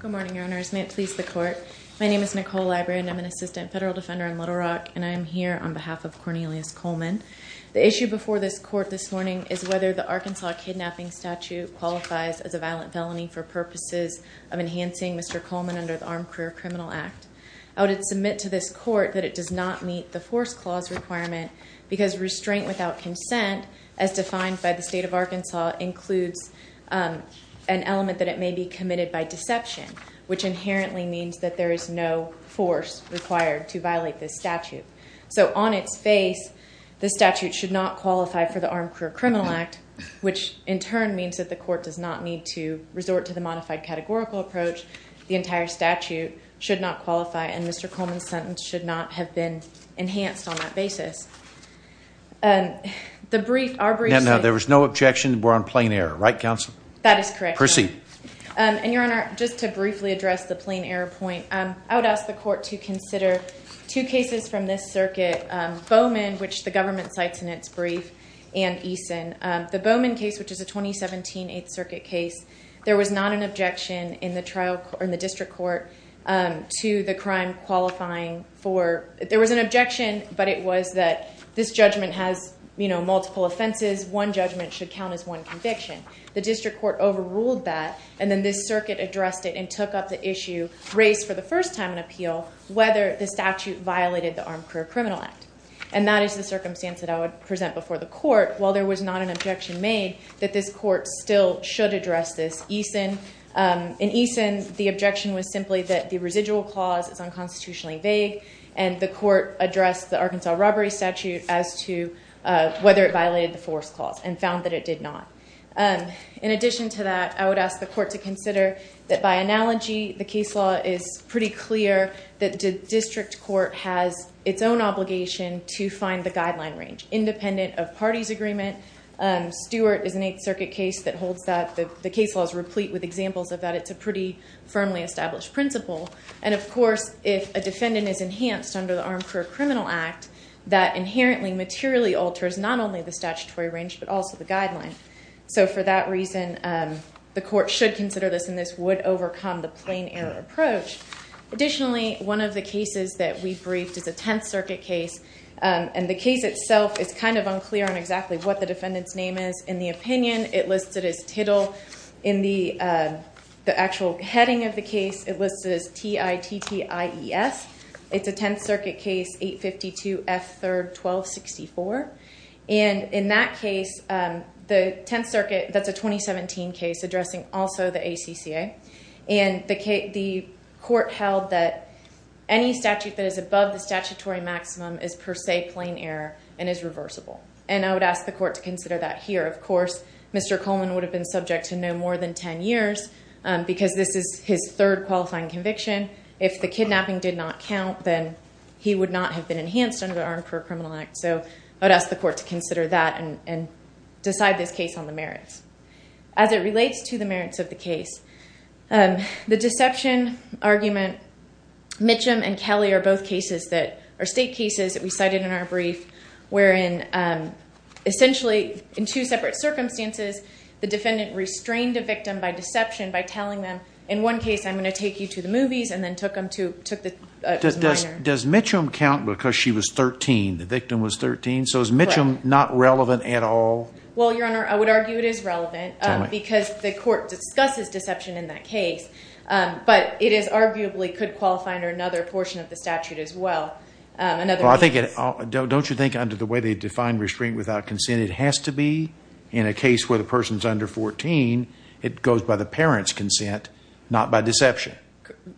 Good morning, Your Honors. May it please the Court. My name is Nicole Ibrahim. I'm an Assistant Federal Defender in Little Rock, and I am here on behalf of Cornelius Coleman. The issue before this Court this morning is whether the Arkansas Kidnapping Statute qualifies as a violent felony for purposes of enhancing Mr. Coleman under the Armed Career Criminal Act. I would submit to this Court that it does not meet the Force Clause requirement because restraint without consent, as defined by the State of Arkansas, includes an element that it may be committed by deception, which inherently means that there is no force required to violate this statute. So on its face, the statute should not qualify for the Armed Career Criminal Act, which in turn means that the Court does not need to resort to the modified categorical approach. The entire statute should not qualify, and Mr. Coleman's sentence should not have been enhanced on that basis. The brief, our brief... There was no objection. We're on plain error, right Counsel? That is correct. Proceed. And Your Honor, just to briefly address the plain error point, I would ask the Court to consider two cases from this circuit, Bowman, which the government cites in its brief, and Eason. The Bowman case, which is a 2017 8th Circuit case, there was not an objection in the district court to the crime qualifying for... There was an objection, but it was that this judgment has multiple offenses. One judgment should count as one conviction. The district court overruled that, and then this circuit addressed it and took up the issue, raised for the first time in appeal, whether the statute violated the Armed Career Criminal Act. And that is the circumstance that I would present before the Court. While there was not an objection made, that this Court still should address this. In Eason, the objection was simply that the residual clause is unconstitutionally vague, and the Arkansas Robbery Statute as to whether it violated the force clause, and found that it did not. In addition to that, I would ask the Court to consider that by analogy, the case law is pretty clear that the district court has its own obligation to find the guideline range, independent of parties' agreement. Stewart is an 8th Circuit case that holds that. The case law is replete with examples of that. It's a pretty firmly established principle. And of course, if a defendant is enhanced under the Armed Career Criminal Act, that inherently materially alters not only the statutory range, but also the guideline. So for that reason, the Court should consider this, and this would overcome the plain error approach. Additionally, one of the cases that we briefed is a 10th Circuit case, and the case itself is kind of unclear on exactly what the defendant's name is. In the opinion, it listed as Tittle. In the actual heading of the case, it listed as T-I-T-T-I-E-S. It's a 10th Circuit case, 852 F. 3rd 1264. And in that case, the 10th Circuit, that's a 2017 case addressing also the ACCA. And the Court held that any statute that is above the statutory maximum is per se plain error, and is reversible. And I would ask the Court to consider that here. Of course, Mr. Coleman would have been subject to no more than 10 years, because this is his third qualifying conviction. If the kidnapping did not count, then he would not have been enhanced under the Armed Career Criminal Act. So I would ask the Court to consider that, and decide this case on the merits. As it relates to the merits of the case, the deception argument, Mitchum and Kelly are both state cases that we cited in our brief, wherein essentially, in two separate circumstances, the defendant restrained a victim by deception by telling them, in one case, I'm going to take you to the movies, and then took the minor. Does Mitchum count because she was 13, the victim was 13? So is Mitchum not relevant at all? Well, Your Honor, I would argue it is relevant, because the Court discusses deception in that statute as well. Don't you think, under the way they define restraint without consent, it has to be, in a case where the person is under 14, it goes by the parent's consent, not by deception?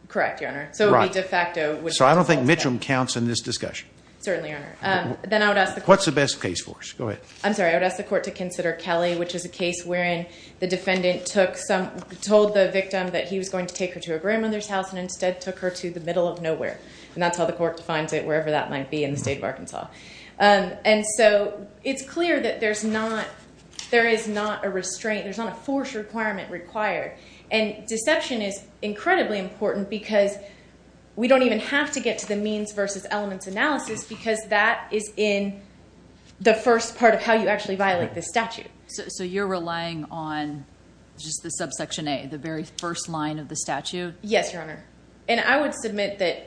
Correct, Your Honor. So it would be de facto. So I don't think Mitchum counts in this discussion. Certainly, Your Honor. What's the best case for us? I'm sorry, I would ask the Court to consider Kelly, which is a case wherein the defendant told the victim that he was going to take her to her grandmother's house, and instead took her to the middle of nowhere. And that's how the Court defines it, wherever that might be in the state of Arkansas. And so it's clear that there is not a restraint, there's not a force requirement required. And deception is incredibly important, because we don't even have to get to the means versus elements analysis, because that is in the first part of how you actually violate this statute. So you're relying on just the subsection A, the very first line of the statute? Yes, Your Honor. And I would submit that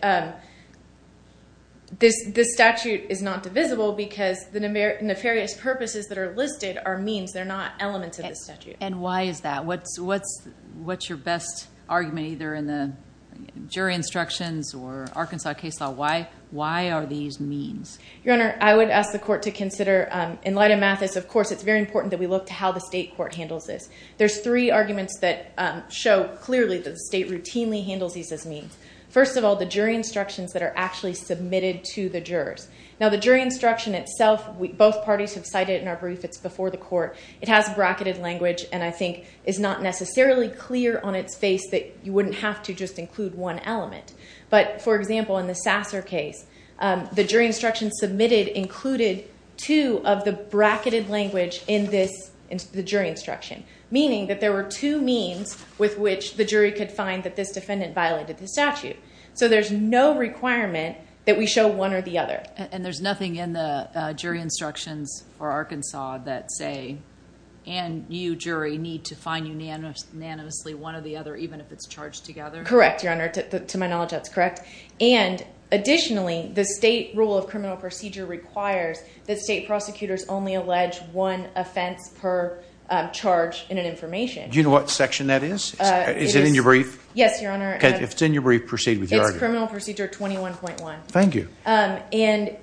this statute is not divisible, because the nefarious purposes that are listed are means, they're not elements of the statute. And why is that? What's your best argument, either in the jury instructions or Arkansas case law? Why are these means? Your Honor, I would ask the Court to consider, in light of Mathis, of course, it's very important that we look to how the state court handles this. There's three arguments that show clearly that the state routinely handles these as means. First of all, the jury instructions that are actually submitted to the jurors. Now the jury instruction itself, both parties have cited it in our brief, it's before the Court. It has bracketed language, and I think is not necessarily clear on its face that you wouldn't have to just include one element. But for example, in the Sasser case, the jury instruction submitted included two of the bracketed language in the jury instruction, meaning that there were two means with which the jury could find that this defendant violated the statute. So there's no requirement that we show one or the other. And there's nothing in the jury instructions for Arkansas that say, and you, jury, need to find unanimously one or the other, even if it's charged together? Correct, Your Honor. To my knowledge, that's correct. And additionally, the state rule of criminal procedure requires that state prosecutors only allege one offense per charge in an information. Do you know what section that is? Is it in your brief? Yes, Your Honor. Okay, if it's in your brief, proceed with your argument. It's criminal procedure 21.1. Thank you. And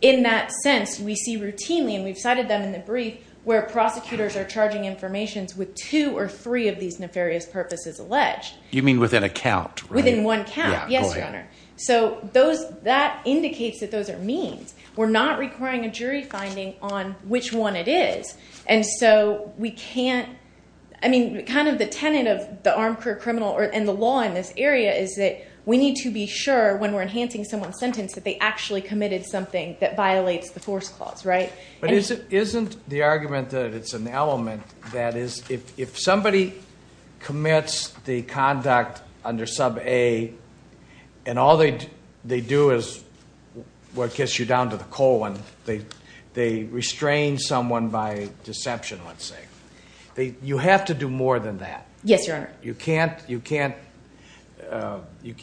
in that sense, we see routinely, and we've cited them in the brief, where prosecutors are charging information with two or three of these nefarious purposes alleged. You mean within a count, right? Within one count, yes, Your Honor. So that indicates that those are means. We're not requiring a jury finding on which one it is. And so we can't, I mean, kind of the tenet of the armed career criminal and the law in this area is that we need to be sure when we're enhancing someone's sentence that they actually committed something that violates the force clause, right? But isn't the argument that it's an element, that is, if somebody commits the conduct under sub A, and all they do is, well, it gets you down to the colon, they restrain someone by deception, let's say. You have to do more than that. Yes, Your Honor. You can't, you can't,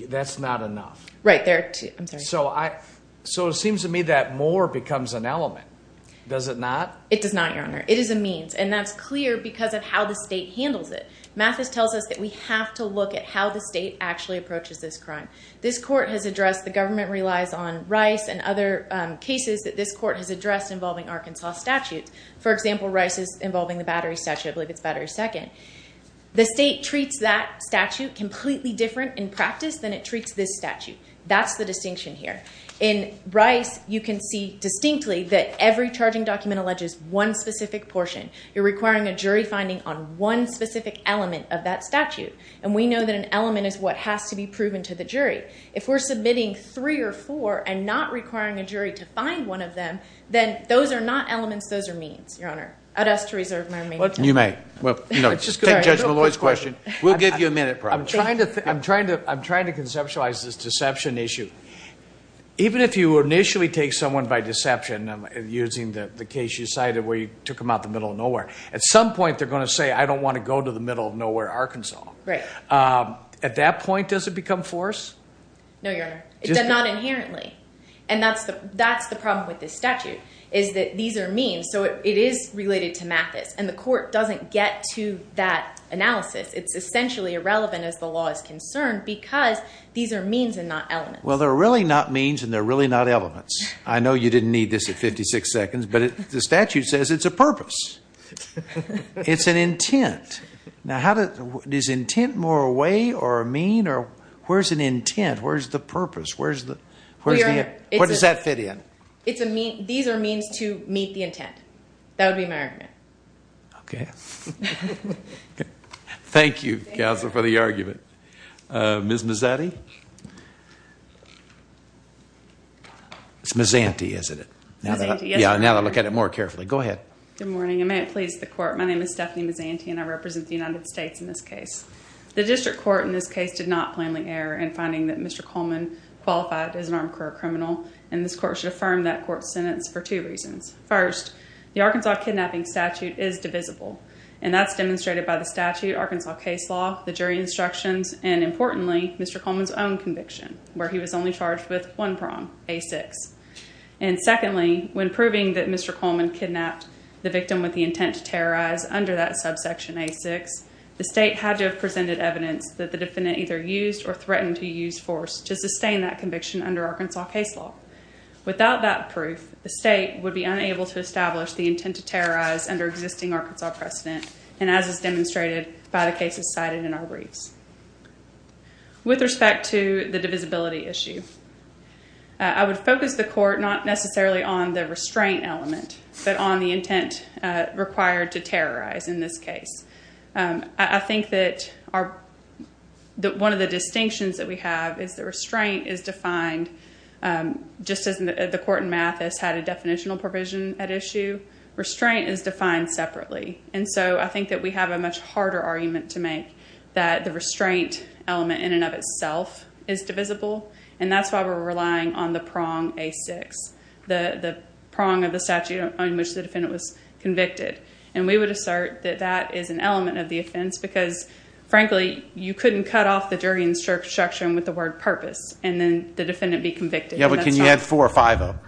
that's not enough. Right, there are two, I'm sorry. So it seems to me that more becomes an element. Does it not? It does not, Your Honor. It is a means, and that's clear because of how the state handles it. Mathis tells us that we have to look at how the state actually approaches this crime. This court has addressed, the government relies on Rice and other cases that this court has addressed involving Arkansas statutes. For example, Rice's involving the Battery Statute, I believe it's Battery Second. The state treats that statute completely different in practice than it treats this statute. That's the distinction here. In Rice, you can see distinctly that every charging document alleges one specific portion. You're requiring a jury finding on one specific element of that statute, and we know that an element is what has to be proven to the jury. If we're submitting three or four and not requiring a jury to find one of them, then those are not elements, those are means, Your Honor. I'd ask to reserve my remaining time. You may. Take Judge Malloy's question. We'll give you a minute, probably. I'm trying to conceptualize this deception issue. Even if you initially take someone by deception, using the case you cited where you took them out the middle of nowhere, at some point they're going to say, I don't want to go to the middle of nowhere, Arkansas. At that point, does it become force? No, Your Honor. It does not inherently. That's the problem with this statute, is that these are means, so it is related to Mathis, and the court doesn't get to that analysis. It's essentially irrelevant as the law is concerned because these are means and not elements. Well, they're really not means and they're You didn't need this at 56 seconds, but the statute says it's a purpose. It's an intent. Is intent more a way or a mean? Where's an intent? Where's the purpose? Where does that fit in? These are means to meet the intent. That would be my argument. Okay. Thank you, counsel, for the argument. Ms. Mazzatti? It's Mazzanti, isn't it? Mazzanti, yes, Your Honor. Now to look at it more carefully. Go ahead. Good morning, and may it please the court. My name is Stephanie Mazzanti, and I represent the United States in this case. The district court in this case did not plainly err in finding that Mr. Coleman qualified as an armed career criminal, and this court should affirm that court's sentence for two reasons. First, the Arkansas kidnapping statute is divisible, and that's demonstrated by the statute, Arkansas case law, the jury instructions, and importantly, Mr. Coleman's own conviction, where he was only charged with one prong, A6. And secondly, when proving that Mr. Coleman kidnapped the victim with the intent to terrorize under that subsection A6, the state had to have presented evidence that the defendant either used or threatened to use force to sustain that conviction under Arkansas case law. Without that proof, the state would be unable to establish the intent to terrorize under existing Arkansas precedent, and as is demonstrated by the cases cited in our briefs. With respect to the divisibility issue, I would focus the court not necessarily on the restraint element, but on the intent required to terrorize in this case. I think one of the distinctions that we have is the restraint is defined just as the court in that issue. Restraint is defined separately, and so I think that we have a much harder argument to make that the restraint element in and of itself is divisible, and that's why we're relying on the prong A6, the prong of the statute on which the defendant was convicted. And we would assert that that is an element of the offense because, frankly, you couldn't cut off the jury instruction with the word purpose and then the defendant couldn't be convicted. Yeah, but can you add four or five of them?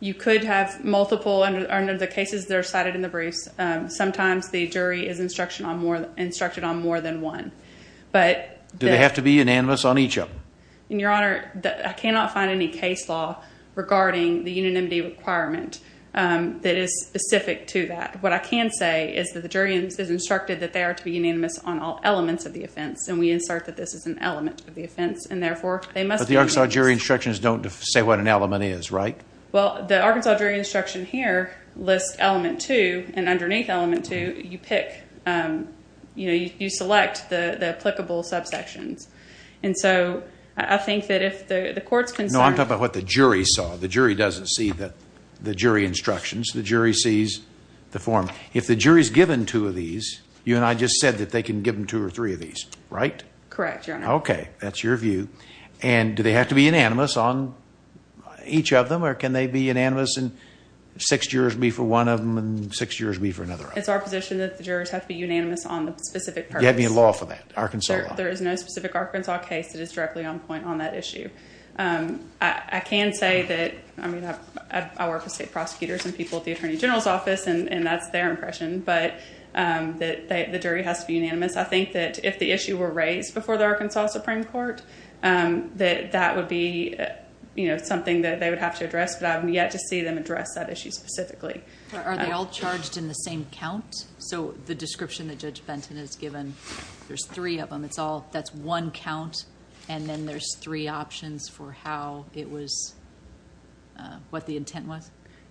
You could have multiple under the cases that are cited in the briefs. Sometimes the jury is instructed on more than one. Do they have to be unanimous on each of them? Your Honor, I cannot find any case law regarding the unanimity requirement that is specific to that. What I can say is that the jury is instructed that they are to be unanimous on all elements of the offense, and we insert that this is an element of the offense, and therefore, they must be unanimous. But the Arkansas jury instructions don't say what an element is, right? Well, the Arkansas jury instruction here lists element two, and underneath element two, you pick, you know, you select the applicable subsections. And so I think that if the court's concerned... No, I'm talking about what the jury saw. The jury doesn't see the jury instructions. The jury sees the form. If the jury's given two of these, you and I just said that they can give them two or three of these, right? Correct, Your Honor. Okay, that's your view. And do they have to be unanimous on each of them, or can they be unanimous and six jurors be for one of them and six jurors be for another one? It's our position that the jurors have to be unanimous on the specific purpose. Do you have any law for that, Arkansas law? There is no specific Arkansas case that is directly on point on that issue. I can say that, I mean, I work with state prosecutors and people at the Attorney General's Office, and that's their impression, but the jury has to be unanimous. I think that if the issue were raised before the Arkansas Supreme Court, that that would be, you know, something that they would have to address, but I haven't yet to see them address that issue specifically. Are they all charged in the same count? So the description that Judge Benton has given, there's three of them. That's one count, and then there's three options for how it was...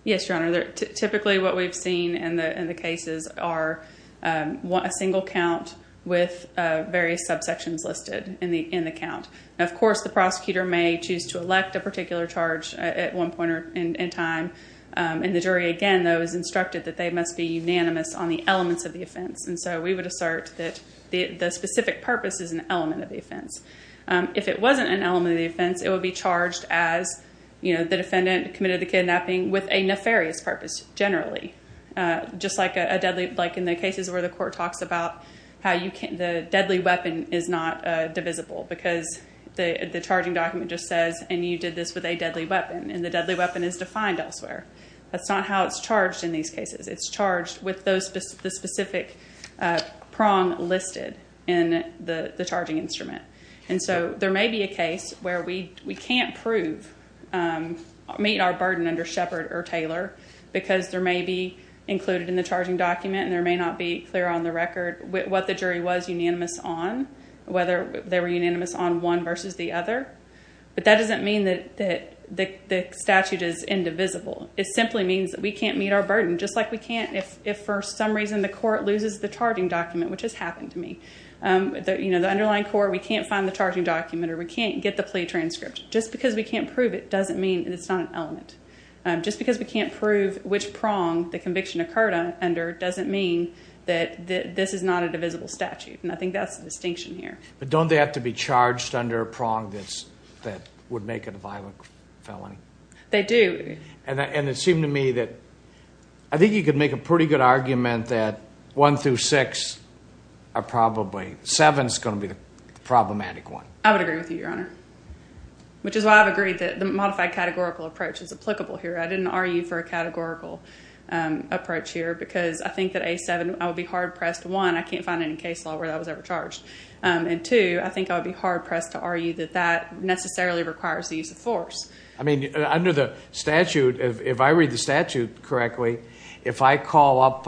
Yes, Your Honor. Typically what we've seen in the cases are a single count with various subsections listed in the count. Of course, the prosecutor may choose to elect a particular charge at one point in time, and the jury, again, though, is instructed that they must be unanimous on the elements of the offense, and so we would assert that the specific purpose is an element of the offense. If it wasn't an element of the offense, it would be charged as, you know, the defendant committed the kidnapping with a nefarious purpose, generally. Just like in the cases where the court talks about how the deadly weapon is not divisible because the charging document just says, and you did this with a deadly weapon, and the deadly weapon is defined elsewhere. That's not how it's charged in these cases. It's charged with the specific prong listed in the charging instrument, and so there may be a case where we can't prove, meet our burden under Shepard or Taylor because there may be included in the charging document, and there may not be clear on the record what the jury was unanimous on, whether they were unanimous on one versus the other, but that doesn't mean that the statute is indivisible. It simply means that we can't meet our burden, just like we can't if for some reason the court loses the charging document, which has we can't get the plea transcript. Just because we can't prove it doesn't mean it's not an element. Just because we can't prove which prong the conviction occurred under doesn't mean that this is not a divisible statute, and I think that's the distinction here. But don't they have to be charged under a prong that would make it a violent felony? They do. And it seemed to me that, I think you could make a pretty good argument that one through six are probably, seven is going to be the problematic one. I would agree with you, Your Honor, which is why I've agreed that the modified categorical approach is applicable here. I didn't argue for a categorical approach here because I think that A7, I would be hard pressed, one, I can't find any case law where that was ever charged, and two, I think I would be hard pressed to argue that that necessarily requires the use of force. I mean, under the statute, if I read the statute correctly, if I call up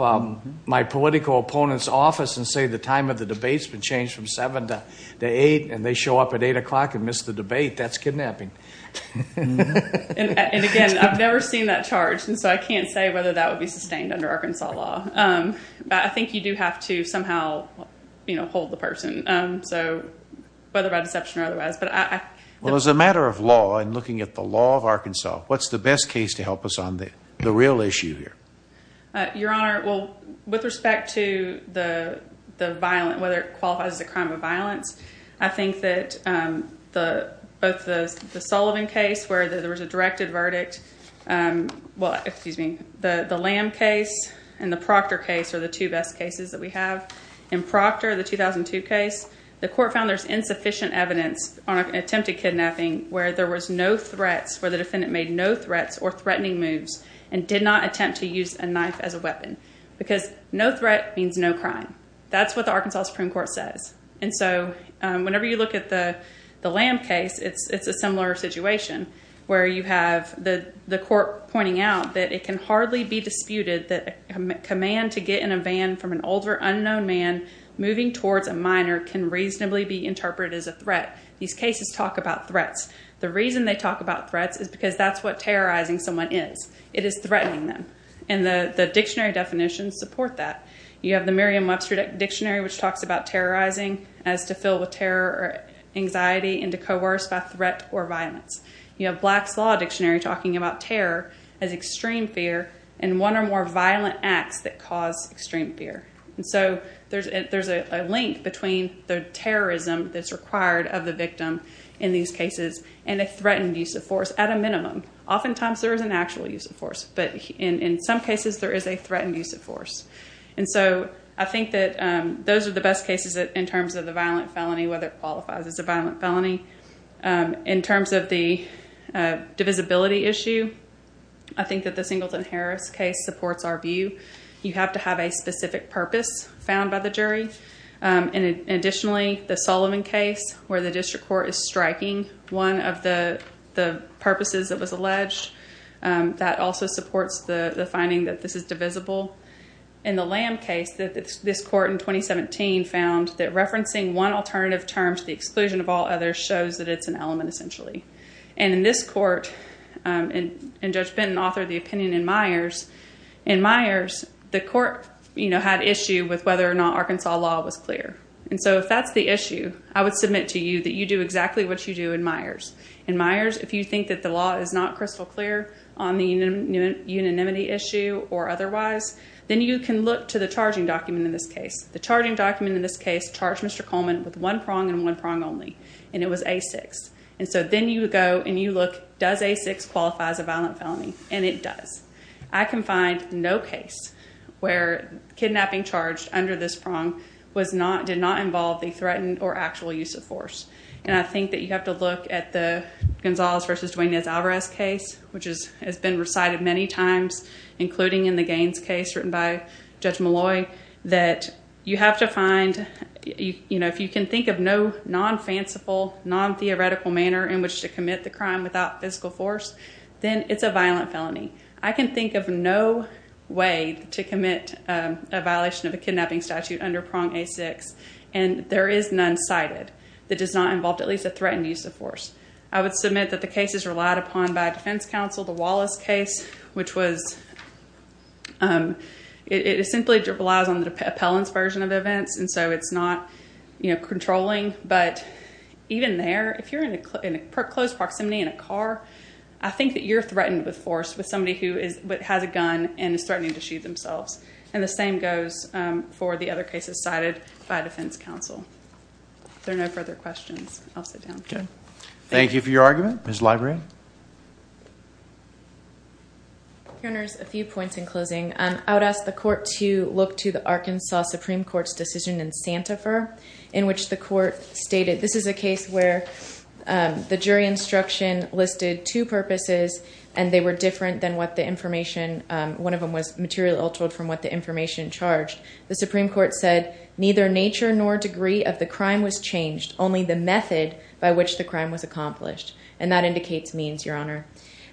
my political opponent's been changed from seven to eight, and they show up at eight o'clock and miss the debate, that's kidnapping. And again, I've never seen that charged, and so I can't say whether that would be sustained under Arkansas law. But I think you do have to somehow hold the person, whether by deception or otherwise. Well, as a matter of law, and looking at the law of Arkansas, what's the best case to help us on the real issue here? Your Honor, well, with respect to the violent, whether it qualifies as a crime of violence, I think that both the Sullivan case, where there was a directed verdict, well, excuse me, the Lamb case and the Proctor case are the two best cases that we have. In Proctor, the 2002 case, the court found there's insufficient evidence on attempted kidnapping where there was no threats, where the defendant made no threats or threatening moves and did not attempt to use a knife as a weapon, because no threat means no crime. That's what the Arkansas Supreme Court says. And so whenever you look at the Lamb case, it's a similar situation where you have the court pointing out that it can hardly be disputed that a command to get in a van from an older unknown man moving towards a minor can reasonably be interpreted as a threat. These cases talk about threats. The reason they talk about threats is because that's what terrorizing someone is. It is threatening them. And the dictionary definitions support that. You have the Merriam-Webster dictionary, which talks about terrorizing as to fill with terror or anxiety and to coerce by threat or violence. You have Black's Law dictionary talking about terror as extreme fear and one or more violent acts that cause extreme fear. And so there's a link between the terrorism that's required of the victim in these cases and a threatened use of force at a minimum. Oftentimes there is an actual use of force, but in some cases there is a threatened use of force. And so I think that those are the best cases in terms of the violent felony, whether it qualifies as a violent felony. In terms of the divisibility issue, I think that the Singleton-Harris case supports our You have to have a specific purpose found by the jury. Additionally, the Sullivan case, where the district court is striking one of the purposes that was alleged, that also supports the finding that this is divisible. In the Lamb case, this court in 2017 found that referencing one alternative term to the exclusion of all others shows that it's an element essentially. And in this court, and Judge Benton authored the opinion in Myers, in Myers the court had issue with whether or not Arkansas law was clear. And so if that's the issue, I would submit to you that you do exactly what you do in Myers. In Myers, if you think that the law is not crystal clear on the unanimity issue or otherwise, then you can look to the charging document in this case. The charging document in this case charged Mr. Coleman with one prong and one prong only, and it was A6. And so then you go and you look, does A6 qualify as a violent felony? And it does. I can find no case where kidnapping charged under this prong did not involve the threatened or actual use of force. And I think that you have to look at the Gonzalez v. Duane Nez Alvarez case, which has been recited many times, including in the Gaines case written by Judge Malloy, that you have to find, if you can think of no non-fanciful, non-theoretical manner in which to commit the crime without physical force, then it's a violent felony. I can think of no way to commit a violation of a kidnapping statute under prong A6, and there is none cited that does not involve at least a threatened use of force. I would submit that the case is relied upon by a defense counsel, the Wallace case, which was, it simply relies on the appellant's version of events, and so it's not controlling. But even there, if you're in close proximity in a car, I think that you're threatened with force, with somebody who has a gun and is threatening to shoot themselves. And the same goes for the other cases cited by defense counsel. If there are no further questions, I'll sit down. Thank you for your argument. Ms. Librian? Your Honor, a few points in closing. I would ask the court to look to the Arkansas Supreme Court's decision in Santifer, in which the court stated, this is a case where the jury instruction listed two purposes, and they were different than what the information, one of them was material altered from what the information charged. The Supreme Court said, neither nature nor degree of the crime was changed, only the method by which the crime was accomplished. And that indicates means, Your Honor.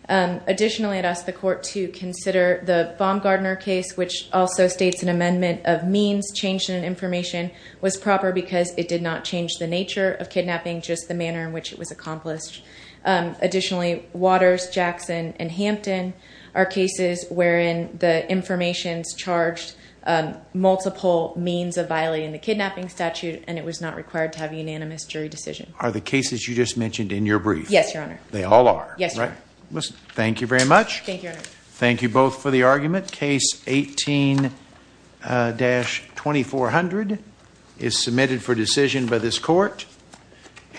Additionally, I'd ask the court to consider the Baumgartner case, which also states an amendment of means, change in information, was proper because it did not change the nature of kidnapping, just the manner in which it was accomplished. Additionally, Waters, Jackson, and Hampton are cases wherein the information's charged multiple means of violating the kidnapping statute, and it was not required to have unanimous jury decision. Are the cases you just mentioned in your brief? Yes, Your Honor. They all are? Yes, Your Honor. Thank you very much. Thank you, Your Honor. Thank you both for the argument. Case 18-2400 is submitted for decision by this court.